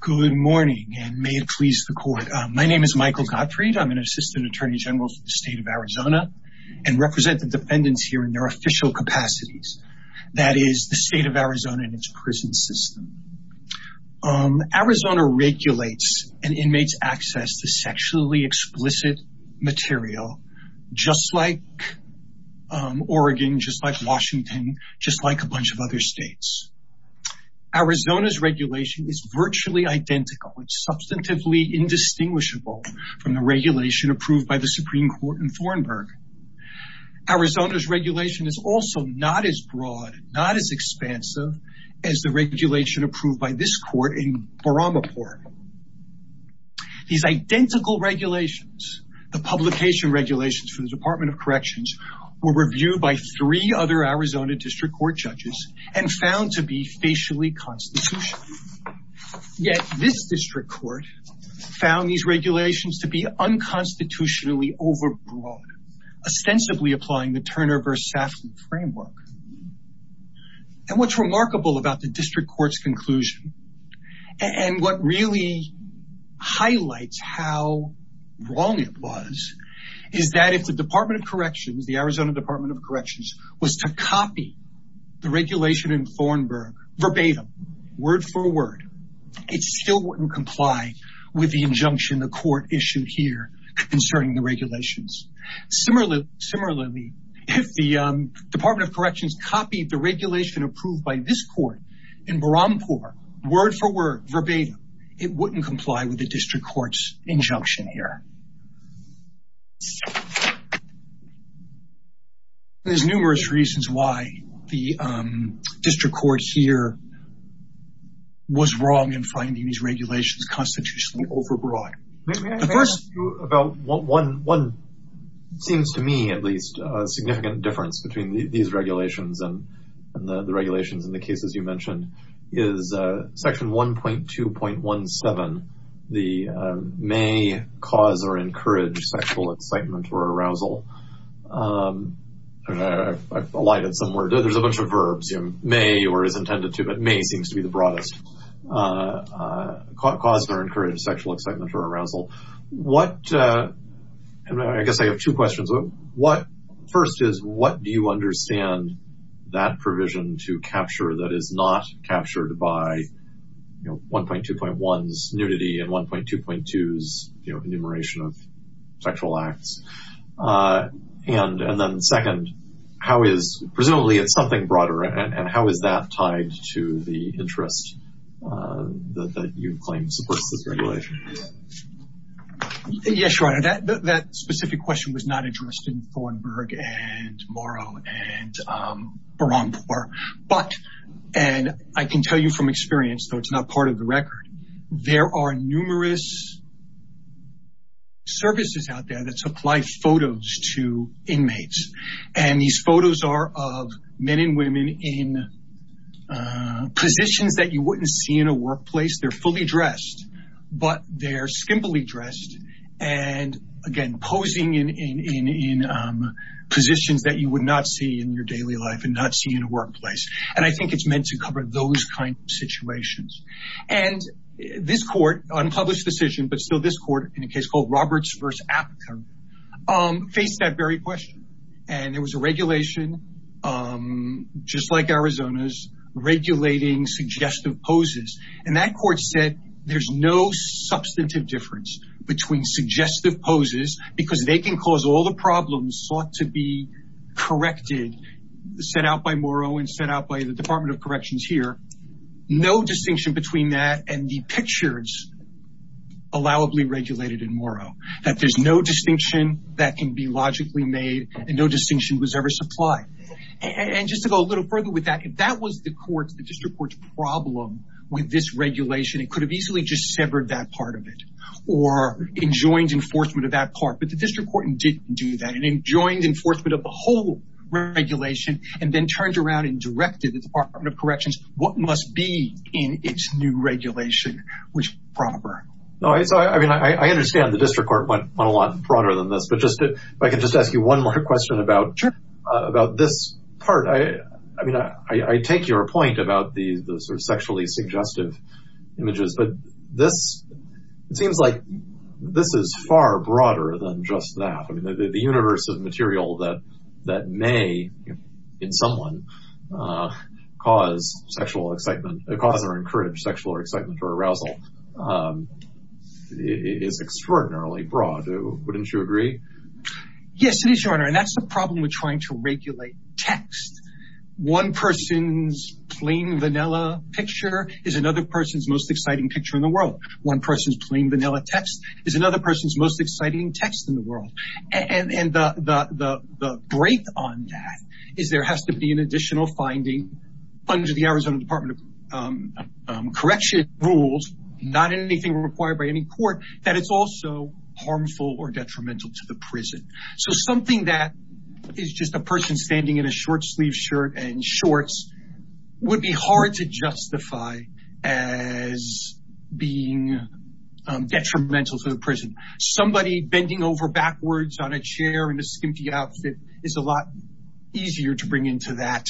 Good morning, and may it please the court. My name is Michael Gottfried. I'm an assistant attorney general for the state of Arizona and represent the defendants here in their official capacities. That is the state of Arizona and its prison system. Arizona regulates an inmate's access to sexually explicit material, just like Oregon, just like Washington, just like a bunch of other states. Arizona's regulation is virtually identical and substantively indistinguishable from the regulation approved by the Supreme Court in Thornburg. Arizona's regulation is also not as broad, not as expansive as the regulation approved by this court in Boramaport. These identical regulations, the publication regulations for the Department of Corrections, were reviewed by three other Arizona district court judges and found to be facially constitutional. Yet this district court found these regulations to be unconstitutionally overbroad, ostensibly applying the Turner v. Safley framework. And what's remarkable about the district court's conclusion, and what really highlights how wrong it was, is that if the Arizona Department of Corrections was to copy the regulation in Thornburg verbatim, word for word, it still wouldn't comply with the injunction the court issued here concerning the regulations. Similarly, if the Department of Corrections copied the regulation approved by this court in Boramaport, word for word, verbatim, it wouldn't comply with the district court's injunction here. There's numerous reasons why the district court here was wrong in finding these regulations constitutionally overbroad. The first about one seems to me, at least, a significant difference between these regulations and the regulations in the cases you mentioned, is section 1.2.17, the may cause or encourage sexual excitement or arousal. I lied in some words. There's a bunch of verbs. May or is intended to, but may seems to be the broadest. Caused or encouraged sexual excitement or that provision to capture that is not captured by 1.2.1's nudity and 1.2.2's enumeration of sexual acts. And then second, how is, presumably it's something broader, and how is that tied to the interest that you claim supports this regulation? Yes, Your Honor. That specific question was not addressed in Thornburg and Morrow and Boramaport. But, and I can tell you from experience, though it's not part of the record, there are numerous services out there that supply photos to inmates. And these photos are of men and women in positions that you wouldn't see in a workplace. They're fully dressed, but they're skimpily dressed. And again, posing in positions that you would not see in your daily life and not see in a workplace. And I think it's meant to cover those kinds of situations. And this court, unpublished decision, but still this court, in a case called Roberts v. Apton, faced that very question. And there was a regulation, just like Arizona's, regulating suggestive poses. And that court said there's no substantive difference between suggestive poses, because they can cause all the problems sought to be corrected, set out by Morrow and set out by the Department of Corrections here. No distinction between that and the pictures allowably regulated in Morrow. That there's no distinction that can be corrected. And just to go a little further with that, if that was the court's, the district court's problem with this regulation, it could have easily just severed that part of it, or enjoined enforcement of that part. But the district court didn't do that. It enjoined enforcement of the whole regulation and then turned around and directed the Department of Corrections what must be in its new regulation, which was proper. I understand the district court went a lot broader than this, but just, if I could just ask you one more question about this part. I mean, I take your point about the sort of sexually suggestive images, but this, it seems like this is far broader than just that. I mean, the universe of material that may, in someone, cause sexual excitement, cause or encourage sexual excitement or arousal is extraordinarily broad. Wouldn't you agree? Yes, it is, Your Honor. And that's the problem with trying to regulate text. One person's plain vanilla picture is another person's most exciting picture in the world. One person's plain vanilla text is another person's most exciting text in the world. And the break on that is there has to be an additional finding under the Arizona Department of Correction rules, not anything required by any court, that it's also harmful or detrimental to the prison. So something that is just a person standing in a short-sleeved shirt and shorts would be hard to justify as being detrimental to the prison. Somebody bending over backwards on a chair in a skimpy outfit is a lot easier to bring into that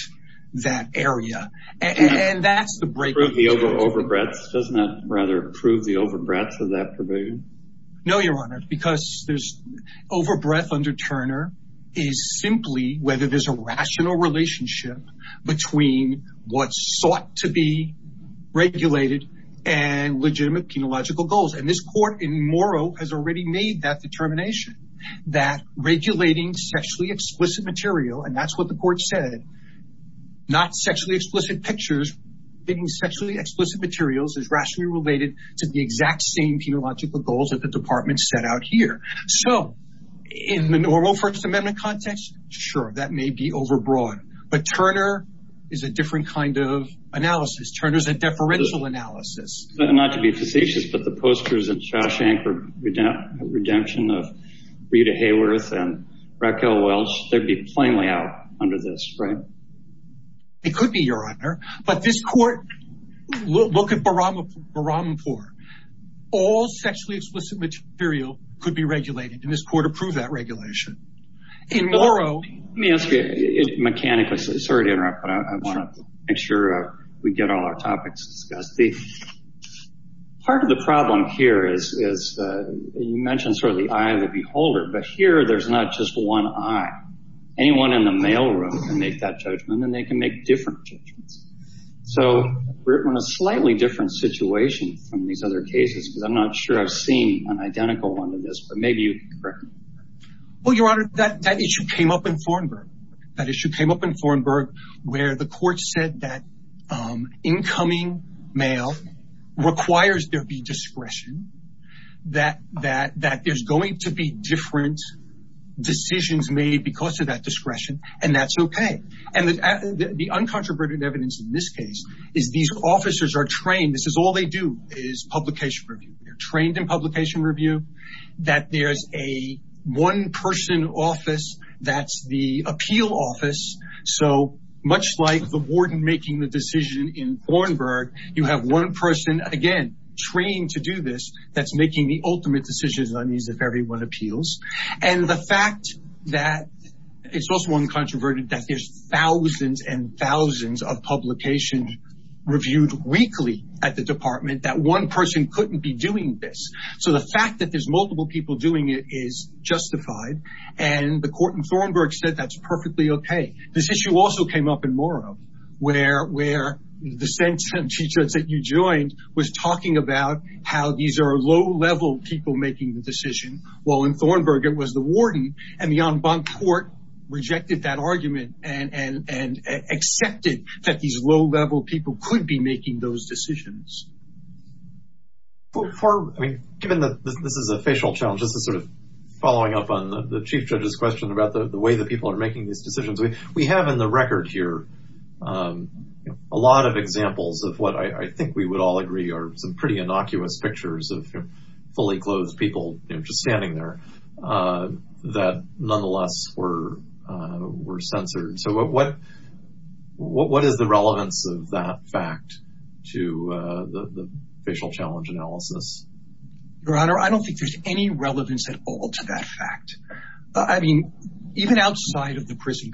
area. And that's the breaking point. Doesn't that rather prove the overbreadth of that provision? No, Your Honor, because there's overbreadth under Turner is simply whether there's a rational relationship between what's sought to be regulated and legitimate penological goals. And this court in Morrow has already made that determination, that regulating sexually explicit material, and that's what the court said, not sexually explicit pictures, getting sexually explicit materials is rationally related to the exact same penological goals that the department set out here. So in the normal First Amendment context, sure, that may be overbroad. But Turner is a different kind of analysis. Turner's a deferential analysis. Not to be facetious, but the posters in Shawshank Redemption of Rita Hayworth and Raquel Welch, they'd be plainly out under this, right? It could be, Your Honor. But this court, look at Baramapur. All sexually explicit material could be regulated, and this court approved that regulation. In Morrow... Let me ask you, mechanically, sorry to interrupt, but I want to make sure we get all our topics discussed. Part of the problem here is, you mentioned sort of the eye of the beholder, but here there's not just one eye. Anyone in the mailroom can make that judgment, and they can make different judgments. So we're in a slightly different situation from these other cases, because I'm not sure I've seen an identical one to this, but maybe you can correct me. Well, Your Honor, that issue came up in Thornburgh. That issue came up in Thornburgh, where the court said that incoming mail requires there be discretion, that there's going to be different decisions made because of that discretion, and that's okay. And the uncontroverted evidence in this case is these officers are trained. This is all they do, is publication review. They're much like the warden making the decision in Thornburgh. You have one person, again, trained to do this, that's making the ultimate decisions on these, if everyone appeals. And the fact that, it's also uncontroverted, that there's thousands and thousands of publications reviewed weekly at the department, that one person couldn't be doing this. So the fact that there's multiple people doing it is justified, and the court in Thornburgh said that's perfectly okay. This issue also came up in Morrow, where the sentencing judge that you joined was talking about how these are low-level people making the decision, while in Thornburgh it was the warden, and the en banc court rejected that argument and accepted that these low-level people could be making those decisions. Given that this is a facial challenge, this is sort of following up on the chief judge's question about the way that people are making these decisions, we have in the record here a lot of examples of what I think we would all agree are some pretty innocuous pictures of fully clothed people just standing there that nonetheless were censored. So what is the relevance of that fact to the facial challenge analysis? Your Honor, I don't think there's any relevance at all to that fact. I mean, even outside of the prison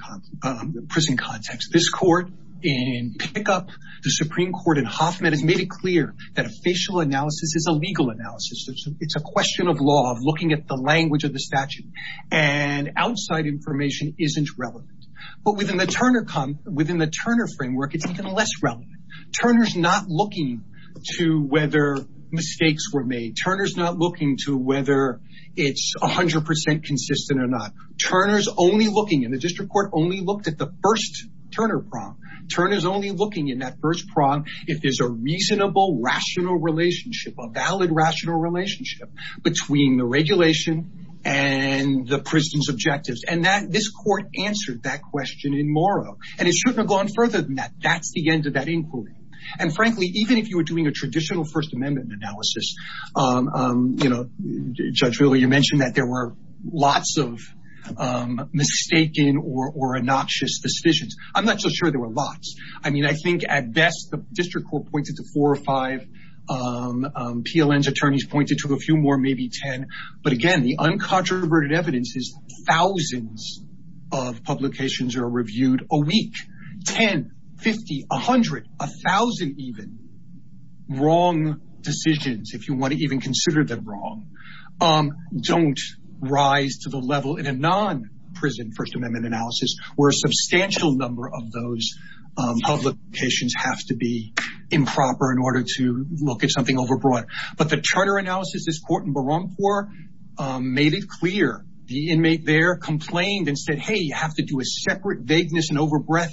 context, this court in Pickup, the Supreme Court in Hoffman has made it clear that a facial analysis is a legal analysis. It's a question of law, of looking at the language of the statute, and outside information isn't relevant. But within the Turner framework, it's even less relevant. Turner's not looking to whether mistakes were made. Turner's not looking to whether it's 100% consistent or not. Turner's only looking, and the district court only looked at the first Turner prong. Turner's only looking in that first prong if there's a reasonable, rational relationship, a valid, rational relationship between the regulation and the prison's objectives. And this court answered that question in Morrow, and it shouldn't have gone further than that. That's the end of inquiry. And frankly, even if you were doing a traditional First Amendment analysis, Judge Wheeler, you mentioned that there were lots of mistaken or obnoxious decisions. I'm not so sure there were lots. I mean, I think at best, the district court pointed to four or five. PLN's attorneys pointed to a few more, maybe 10. But again, the uncontroverted evidence is a week, 10, 50, 100, 1,000 even, wrong decisions, if you want to even consider them wrong, don't rise to the level in a non-prison First Amendment analysis, where a substantial number of those publications have to be improper in order to look at something overbroad. But the Turner analysis, this court in Barrancourt made it clear. The inmate there complained and said, hey, you have to do a separate vagueness and overbreath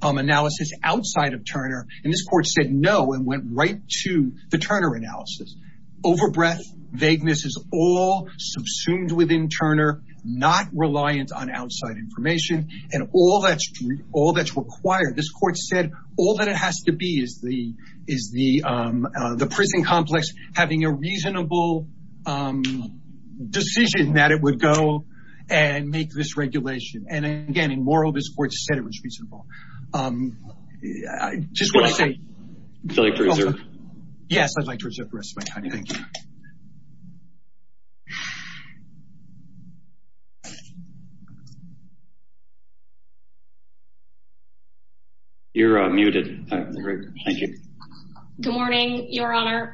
analysis outside of Turner. And this court said no and went right to the Turner analysis. Overbreath, vagueness is all subsumed within Turner, not reliant on outside information. And all that's required, this court said, all that it has to be is the prison complex having a reasonable decision that it would go and make this regulation. And again, in moral, this court said it was reasonable. Just what I say. Would you like to reserve? Yes, I'd like to reserve the rest of my time. Thank you. You're muted. Thank you. Good morning, Your Honor.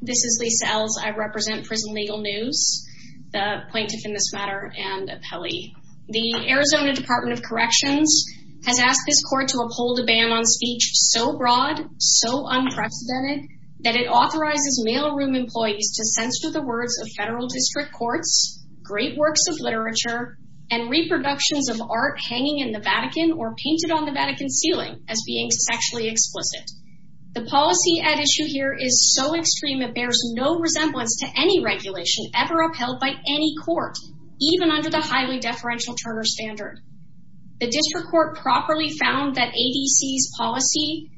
This is Lisa Ells. I represent Prison Legal News. The plaintiff in this matter and appellee. The Arizona Department of Corrections has asked this court to uphold a ban on speech so broad, so unprecedented, that it authorizes mailroom employees to censor the words of federal district courts, great works of literature, and reproductions of art hanging in the Vatican or painted on the Vatican ceiling as being sexually explicit. The policy at issue here is so extreme, it bears no resemblance to any regulation ever upheld by any court, even under the highly deferential Turner standard. The district court properly found that ADC's policy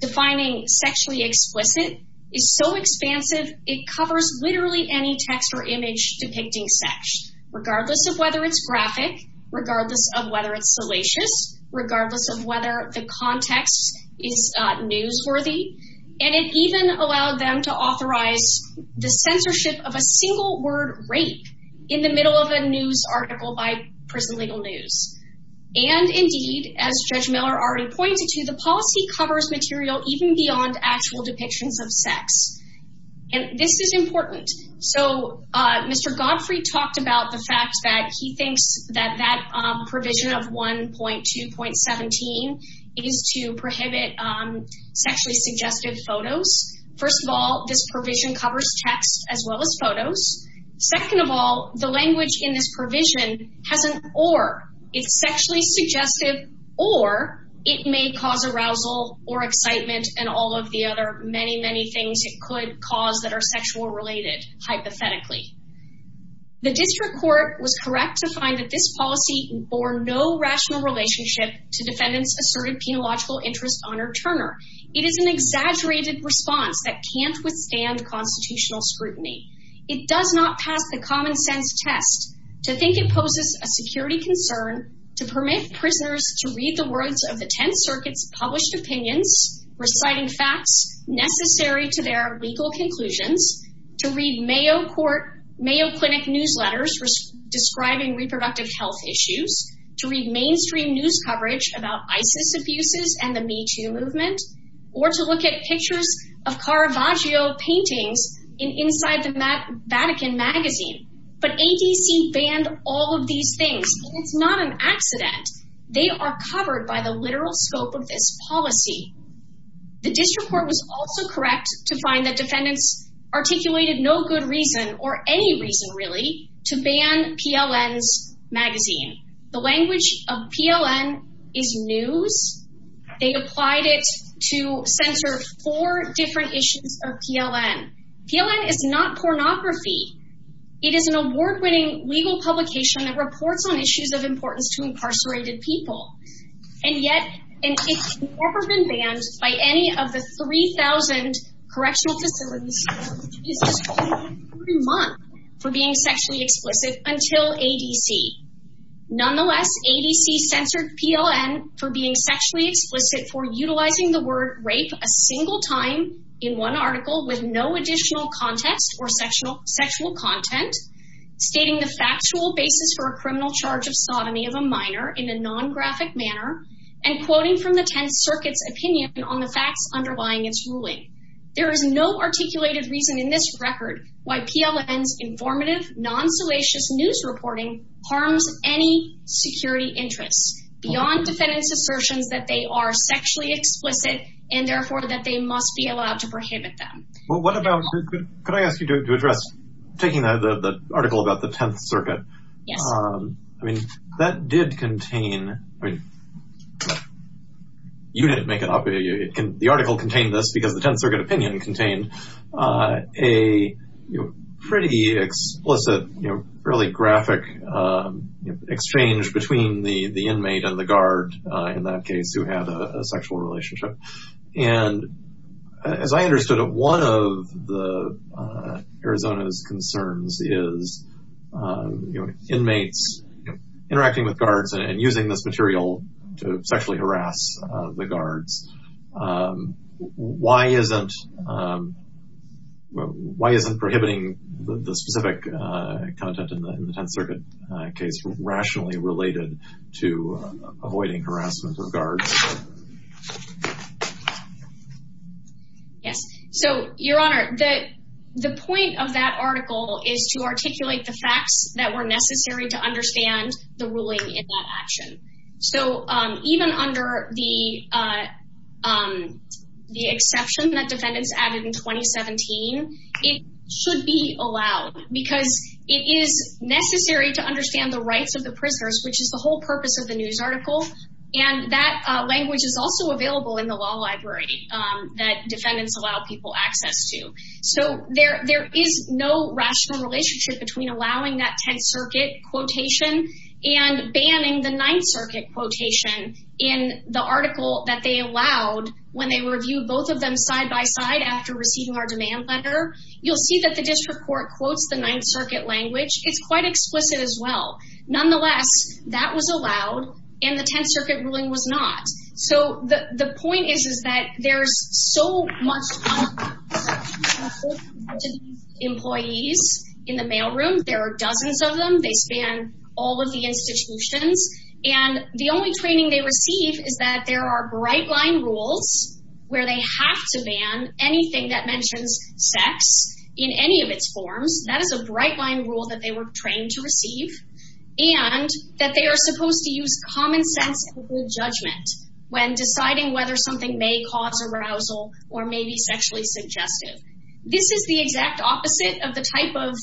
defining sexually explicit is so expansive, it covers literally any text or image depicting sex, regardless of whether it's graphic, regardless of whether it's salacious, regardless of whether the context is newsworthy. And it even allowed them to authorize the censorship of a single word rape in the middle of a news article by Prison Legal News. And indeed, as Judge Miller already pointed to, the policy covers material even beyond actual depictions of sex. And this is important. So Mr. Godfrey talked about the fact that he thinks that that provision of 1.2.17 is to prohibit sexually suggestive photos. First of all, this provision covers text as well as photos. Second of all, the language in this provision has an or. It's sexually suggestive or it may cause arousal or excitement and all of the other many, many things it could cause that are sexual related, hypothetically. The district court was correct to find that this policy bore no rational relationship to defendants asserted penological interest on Turner. It is an exaggerated response that can't withstand constitutional scrutiny. It does not pass the common sense test to think it poses a security concern to permit prisoners to read the words of the 10th Circuit's published opinions, reciting facts necessary to their legal conclusions, to read Mayo Clinic newsletters describing reproductive health issues, to read mainstream news coverage about ISIS abuses and the MeToo movement, or to look at pictures of Caravaggio paintings inside the Vatican magazine. But ADC banned all of these things. It's not an accident. They are covered by the literal scope of this policy. The district court was also correct to find that defendants articulated no good reason or any reason really to ban PLN's magazine. The language of PLN is news. They applied it to censor four different issues of PLN. PLN is not pornography. It is an award-winning legal publication that reports on by any of the 3,000 correctional facilities for being sexually explicit until ADC. Nonetheless, ADC censored PLN for being sexually explicit for utilizing the word rape a single time in one article with no additional context or sexual content, stating the factual basis for a criminal charge of sodomy of a minor in a non-graphic manner, and quoting from the 10th Circuit's opinion on the facts underlying its ruling. There is no articulated reason in this record why PLN's informative, non-salacious news reporting harms any security interests beyond defendants' assertions that they are sexually explicit, and therefore that they must be allowed to prohibit them. Well, what about, could I ask you to address, taking the article about the 10th Circuit, yes, I mean, that did contain, I mean, you didn't make it up. The article contained this because the 10th Circuit opinion contained a pretty explicit, you know, fairly graphic exchange between the inmate and the guard, in that case, who had a sexual relationship. And as I understood it, one of the Arizona's concerns is, you know, inmates interacting with guards and using this material to sexually harass the guards. Why isn't, why isn't prohibiting the specific content in the 10th Circuit case rationally related to avoiding harassment of guards? Yes. So, Your Honor, the point of that article is to articulate the facts that were necessary to understand the ruling in that action. So, even under the exception that defendants added in 2017, it should be allowed because it is necessary to understand the rights of the whole purpose of the news article. And that language is also available in the law library that defendants allow people access to. So, there is no rational relationship between allowing that 10th Circuit quotation and banning the 9th Circuit quotation in the article that they allowed when they reviewed both of them side by side after receiving our demand letter. You'll see that the district court quotes the 9th Circuit language. It's quite explicit as well. Nonetheless, that was allowed and the 10th Circuit ruling was not. So, the point is that there's so much employees in the mail room. There are dozens of them. They span all of the institutions. And the only training they receive is that there are bright line rules where they have to ban anything that mentions sex in any of its forms. That is a bright line rule that they were trained to receive. And that they are supposed to use common sense and good judgment when deciding whether something may cause arousal or maybe sexually suggestive. This is the exact opposite of the type of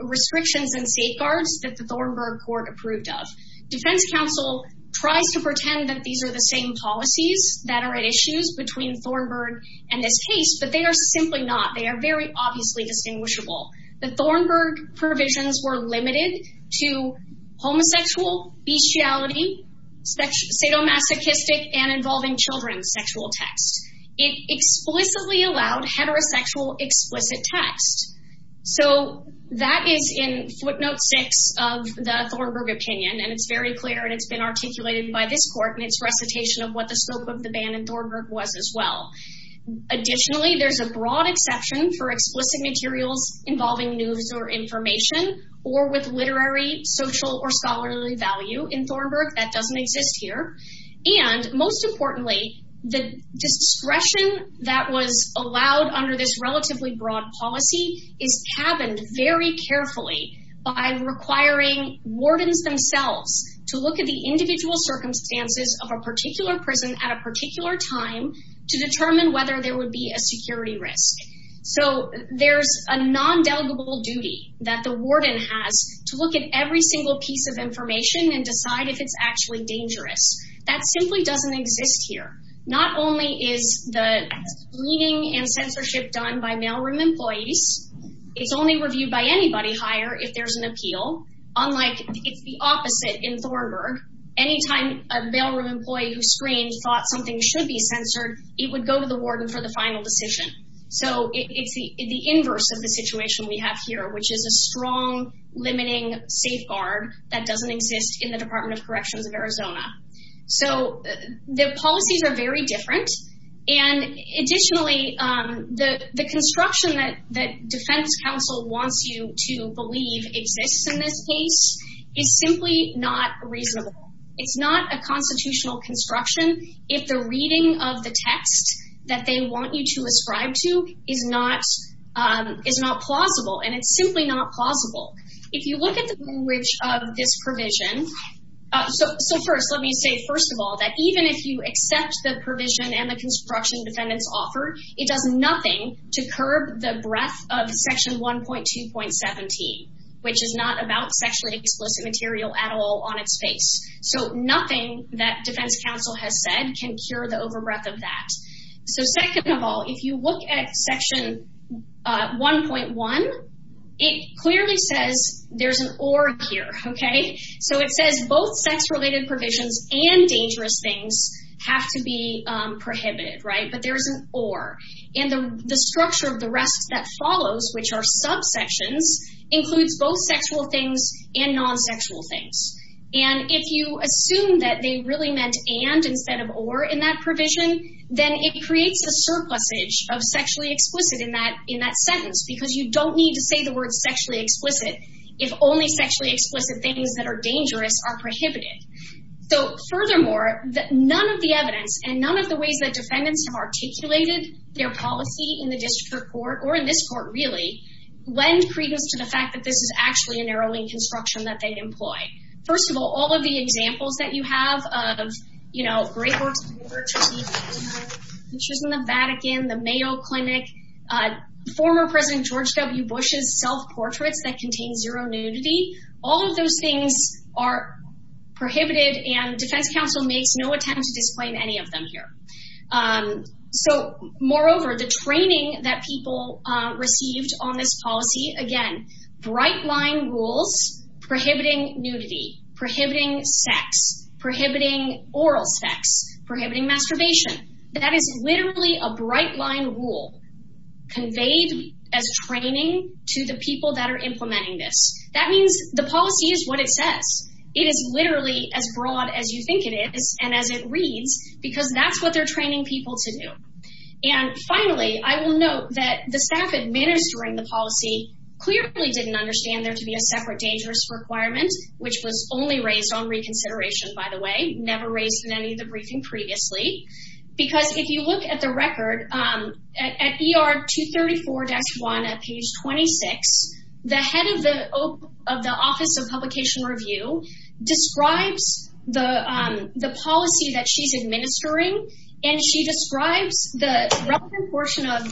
restrictions and safeguards that the Thornburg Court approved of. Defense counsel tries to pretend that these are the same policies that are at issues between Thornburg and this case, but they are simply not. They are very obviously distinguishable. The Thornburg provisions were limited to homosexual, bestiality, sadomasochistic, and involving children sexual text. It explicitly allowed heterosexual explicit text. So, that is in footnote 6 of the Thornburg opinion and it's very clear and it's been articulated by this court in its recitation of what the scope of the ban in Thornburg was as well. Additionally, there's a broad exception for explicit materials involving news or information or with literary, social, or scholarly value in Thornburg. That doesn't exist here. And most importantly, the discretion that was allowed under this relatively broad policy is tabbed very carefully by requiring wardens themselves to look at the individual circumstances of a particular prison at a There's a non-delegable duty that the warden has to look at every single piece of information and decide if it's actually dangerous. That simply doesn't exist here. Not only is the cleaning and censorship done by mailroom employees, it's only reviewed by anybody higher if there's an appeal. Unlike, it's the opposite in Thornburg. Anytime a mailroom employee who screens thought something should be censored, it would go to the warden for the final decision. So it's the inverse of the situation we have here, which is a strong, limiting safeguard that doesn't exist in the Department of Corrections of Arizona. So the policies are very different. And additionally, the construction that defense counsel wants you to believe exists in this case is simply not reasonable. It's not a constitutional construction if the reading of the text that they want you to ascribe to is not plausible. And it's simply not plausible. If you look at the language of this provision, so first, let me say, first of all, that even if you accept the provision and the construction defendants offer, it does nothing to curb the breadth of Section 1.2.17, which is not about material at all on its face. So nothing that defense counsel has said can cure the overbreadth of that. So second of all, if you look at Section 1.1, it clearly says there's an or here, okay? So it says both sex-related provisions and dangerous things have to be prohibited, right? But there's an or. And the structure of the rest that follows, which are subsections, includes both sexual things and non-sexual things. And if you assume that they really meant and instead of or in that provision, then it creates a surplusage of sexually explicit in that sentence because you don't need to say the word sexually explicit if only sexually explicit things that are dangerous are prohibited. So furthermore, none of the evidence and none of the ways that defendants have articulated their policy in the district court or in this court, really, lend credence to the fact that this is actually a narrowing construction that they employ. First of all, all of the examples that you have of, you know, Great Works, pictures in the Vatican, the Mayo Clinic, former President George W. Bush's self-portraits that contain zero nudity, all of those things are prohibited and defense counsel makes no attempt to disclaim any of them here. So moreover, the training that people received on this policy, again, bright line rules prohibiting nudity, prohibiting sex, prohibiting oral sex, prohibiting masturbation. That is literally a bright line rule conveyed as training to the people that are implementing this. That means the policy is what it says. It is literally as broad as you think it is and as it reads because that's what they're training people to do. And finally, I will note that the staff administering the policy clearly didn't understand there to be a separate dangerous requirement, which was only raised on reconsideration, by the way, never raised in any of the briefing previously, because if you look at the record, at ER 234-1 at page 26, the head of the Office of Publication Review describes the policy that she's administering and she describes the relevant portion of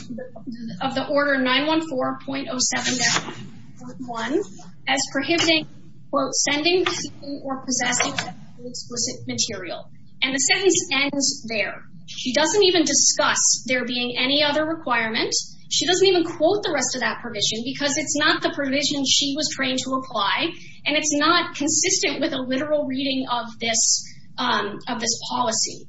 the order 914.07-1 as prohibiting, quote, sending or possessing of any explicit material. And the sentence ends there. She doesn't even discuss there being any other requirement. She doesn't even quote the rest of that provision because it's not the provision she was trained to apply and it's not consistent with a literal reading of this policy.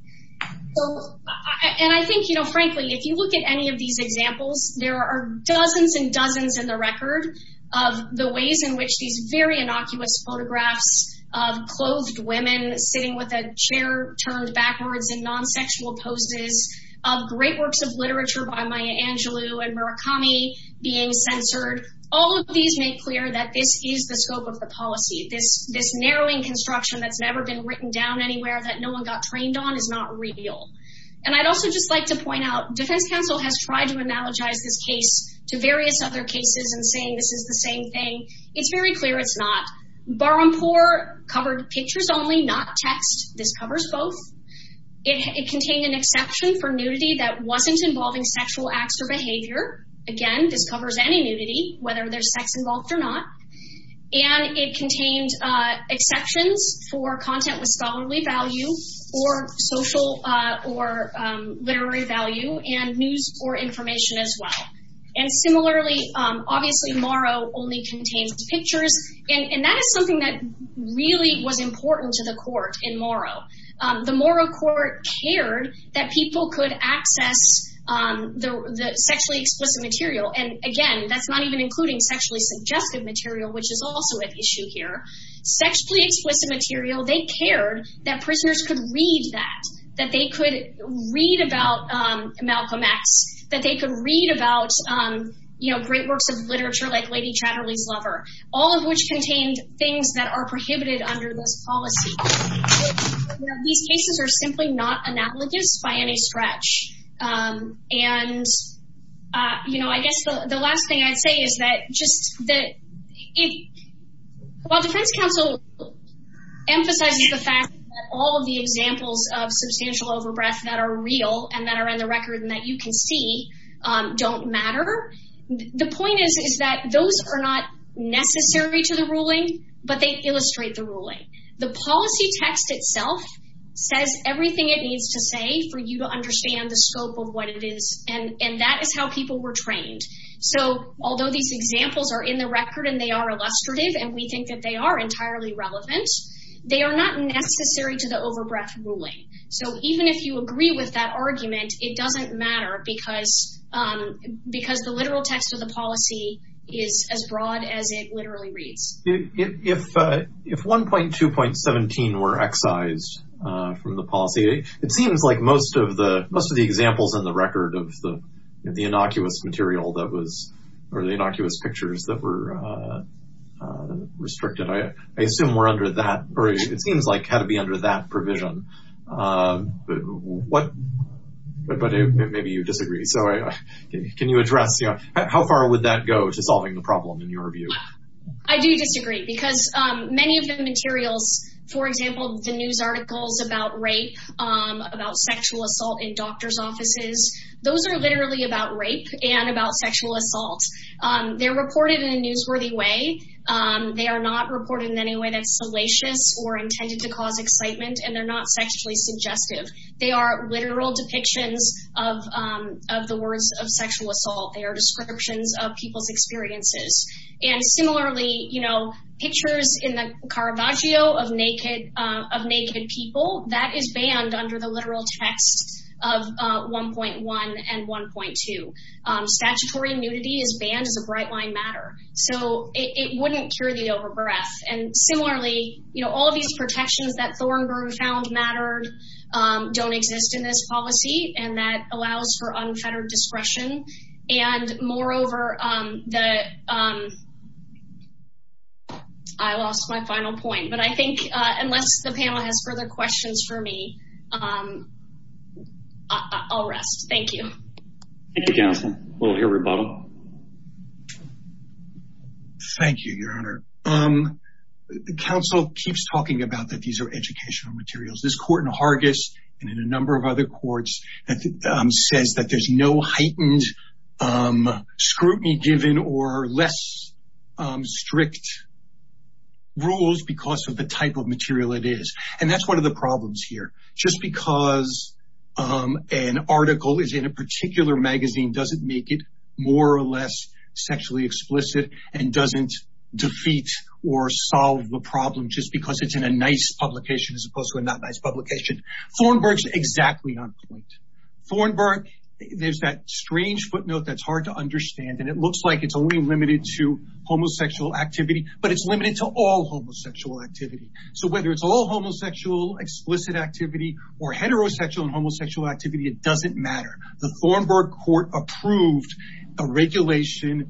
And I think, you know, frankly, if you look at any of these examples, there are dozens and dozens in the record of the ways in which these very innocuous photographs of clothed women sitting with a chair turned backwards in non-sexual poses, of great works of literature by Maya Angelou and Murakami being censored, all of these make clear that this is the scope of the policy. This narrowing construction that's never been written down anywhere that no one got trained on is not real. And I'd also just like to point out, Defense Counsel has tried to analogize this case to various other cases and saying this is the same thing. It's very clear it's not. Barampour covered pictures only, not text. This covers both. It contained an exception for nudity that wasn't involving sexual acts or behavior. Again, this covers any nudity, whether there's sex involved or not. And it contained exceptions for content with scholarly value or social or literary value and news or information as well. And similarly, obviously, Morrow only contains pictures. And that is something that really was important to the court in Morrow. The Morrow court cared that people could access the sexually explicit material. And again, that's not even including sexually suggestive material, which is also an issue here. Sexually explicit material, they cared that prisoners could read that, that they could read about Malcolm X, that they could read about, you know, great works of literature like Lady Chatterley's Lover, all of which contained things that are prohibited under this stretch. And, you know, I guess the last thing I'd say is that just that it, while Defense Council emphasizes the fact that all of the examples of substantial overbreath that are real and that are in the record and that you can see don't matter, the point is, is that those are not necessary to the ruling, but they illustrate the ruling. The policy text itself says everything it needs to for you to understand the scope of what it is. And that is how people were trained. So although these examples are in the record and they are illustrative, and we think that they are entirely relevant, they are not necessary to the overbreath ruling. So even if you agree with that argument, it doesn't matter because the literal text of the policy is as broad as it literally reads. If 1.2.17 were excised from the policy, it seems like most of the examples in the record of the innocuous material that was, or the innocuous pictures that were restricted, I assume were under that, or it seems like had to be under that provision. But maybe you disagree. So can you address, you know, how far would that go to solving the problem in your view? I do disagree because many of the materials, for example, the news articles about rape, about sexual assault in doctor's offices, those are literally about rape and about sexual assault. They're reported in a newsworthy way. They are not reported in any way that's salacious or intended to cause excitement, and they're not sexually suggestive. They are literal depictions of the of people's experiences. And similarly, you know, pictures in the Caravaggio of naked people, that is banned under the literal text of 1.1 and 1.2. Statutory nudity is banned as a bright line matter. So it wouldn't cure the overbreath. And similarly, you know, all of these protections that Thornberry found mattered don't exist in this policy, and that allows for unfettered discretion. And moreover, I lost my final point, but I think unless the panel has further questions for me, I'll rest. Thank you. Thank you, counsel. We'll hear from Bob. Thank you, your honor. The counsel keeps talking about that these are educational materials. This is not scrutiny given or less strict rules because of the type of material it is. And that's one of the problems here. Just because an article is in a particular magazine doesn't make it more or less sexually explicit and doesn't defeat or solve the problem just because it's in a nice publication as opposed to a not nice publication. Thornberry's exactly on point. Thornberry, there's that strange footnote that's hard to understand. And it looks like it's only limited to homosexual activity, but it's limited to all homosexual activity. So whether it's all homosexual explicit activity or heterosexual and homosexual activity, it doesn't matter. The Thornberry court approved a regulation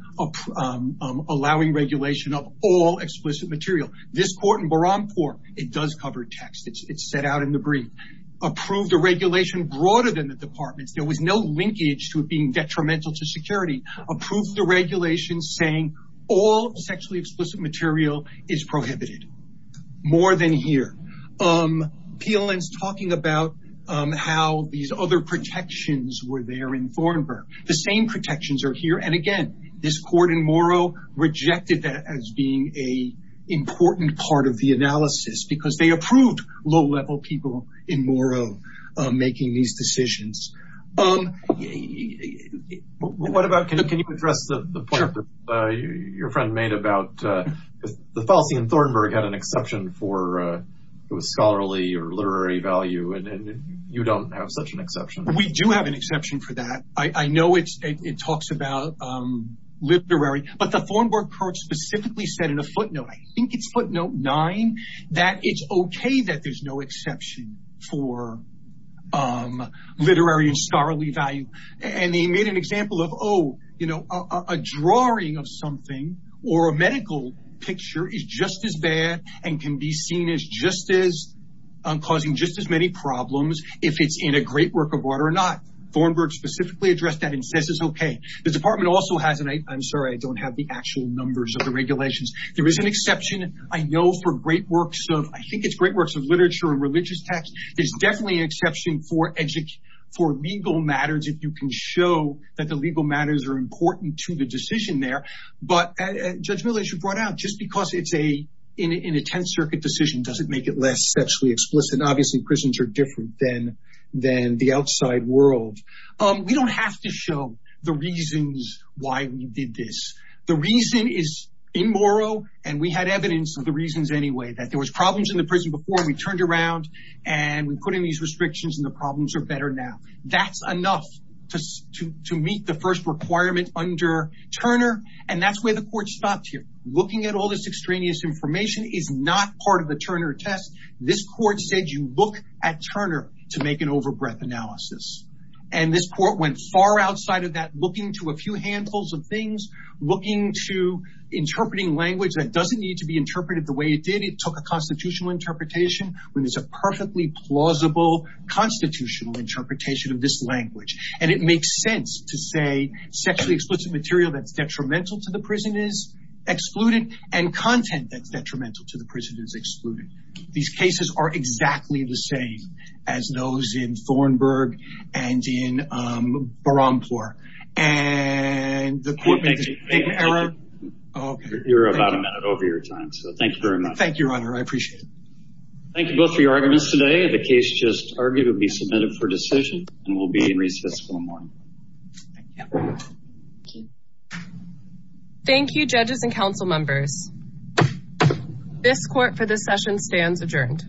allowing regulation of all explicit material. This court in Barampour, it does cover text. It's set out in the brief. Approved a regulation broader than the department's. There was no linkage to it being detrimental to security. Approved the regulation saying all sexually explicit material is prohibited. More than here. PLN's talking about how these other protections were there in Thornberry. The same protections are here. And again, this court in Morrow rejected that as being an important part of the analysis because they approved low-level people in Morrow making these decisions. Can you address the point that your friend made about the policy in Thornberry had an exception for scholarly or literary value, and you don't have such an exception. We do have an exception for that. I know it talks about literary, but the Thornberry court said in a footnote, I think it's footnote nine, that it's okay that there's no exception for literary and scholarly value. And they made an example of, oh, a drawing of something or a medical picture is just as bad and can be seen as just as causing just as many problems if it's in a great work of art or not. Thornberry specifically addressed that and says it's okay. The department also has, and I'm sorry, I don't have the actual numbers of the regulations. There is an exception, I know, for great works of, I think it's great works of literature and religious texts. There's definitely an exception for legal matters if you can show that the legal matters are important to the decision there. But Judge Miller, as you brought out, just because it's in a Tenth Circuit decision doesn't make it less sexually explicit. Obviously, prisons are different than the outside world. We don't have to show the reasons why we did this. The reason is in Morrow, and we had evidence of the reasons anyway, that there was problems in the prison before we turned around and we put in these restrictions and the problems are better now. That's enough to meet the first requirement under Turner. And that's where the court stopped here. Looking at all this extraneous information is not part of the Turner test. This court said, you look at Turner to make an overbreath analysis. And this court went far outside of that, looking to a few handfuls of things, looking to interpreting language that doesn't need to be interpreted the way it did. It took a constitutional interpretation when there's a perfectly plausible constitutional interpretation of this language. And it makes sense to say sexually explicit material that's detrimental to the prison is excluded and content that's detrimental to the prison is excluded. These cases are exactly the same as those in Thornburg and in Barampour. You're about a minute over your time, so thank you very much. Thank you, Your Honor. I appreciate it. Thank you both for your arguments today. The case just argued will be submitted for decision and will be in recess until morning. Thank you. Judges and council members, this court for this session stands adjourned.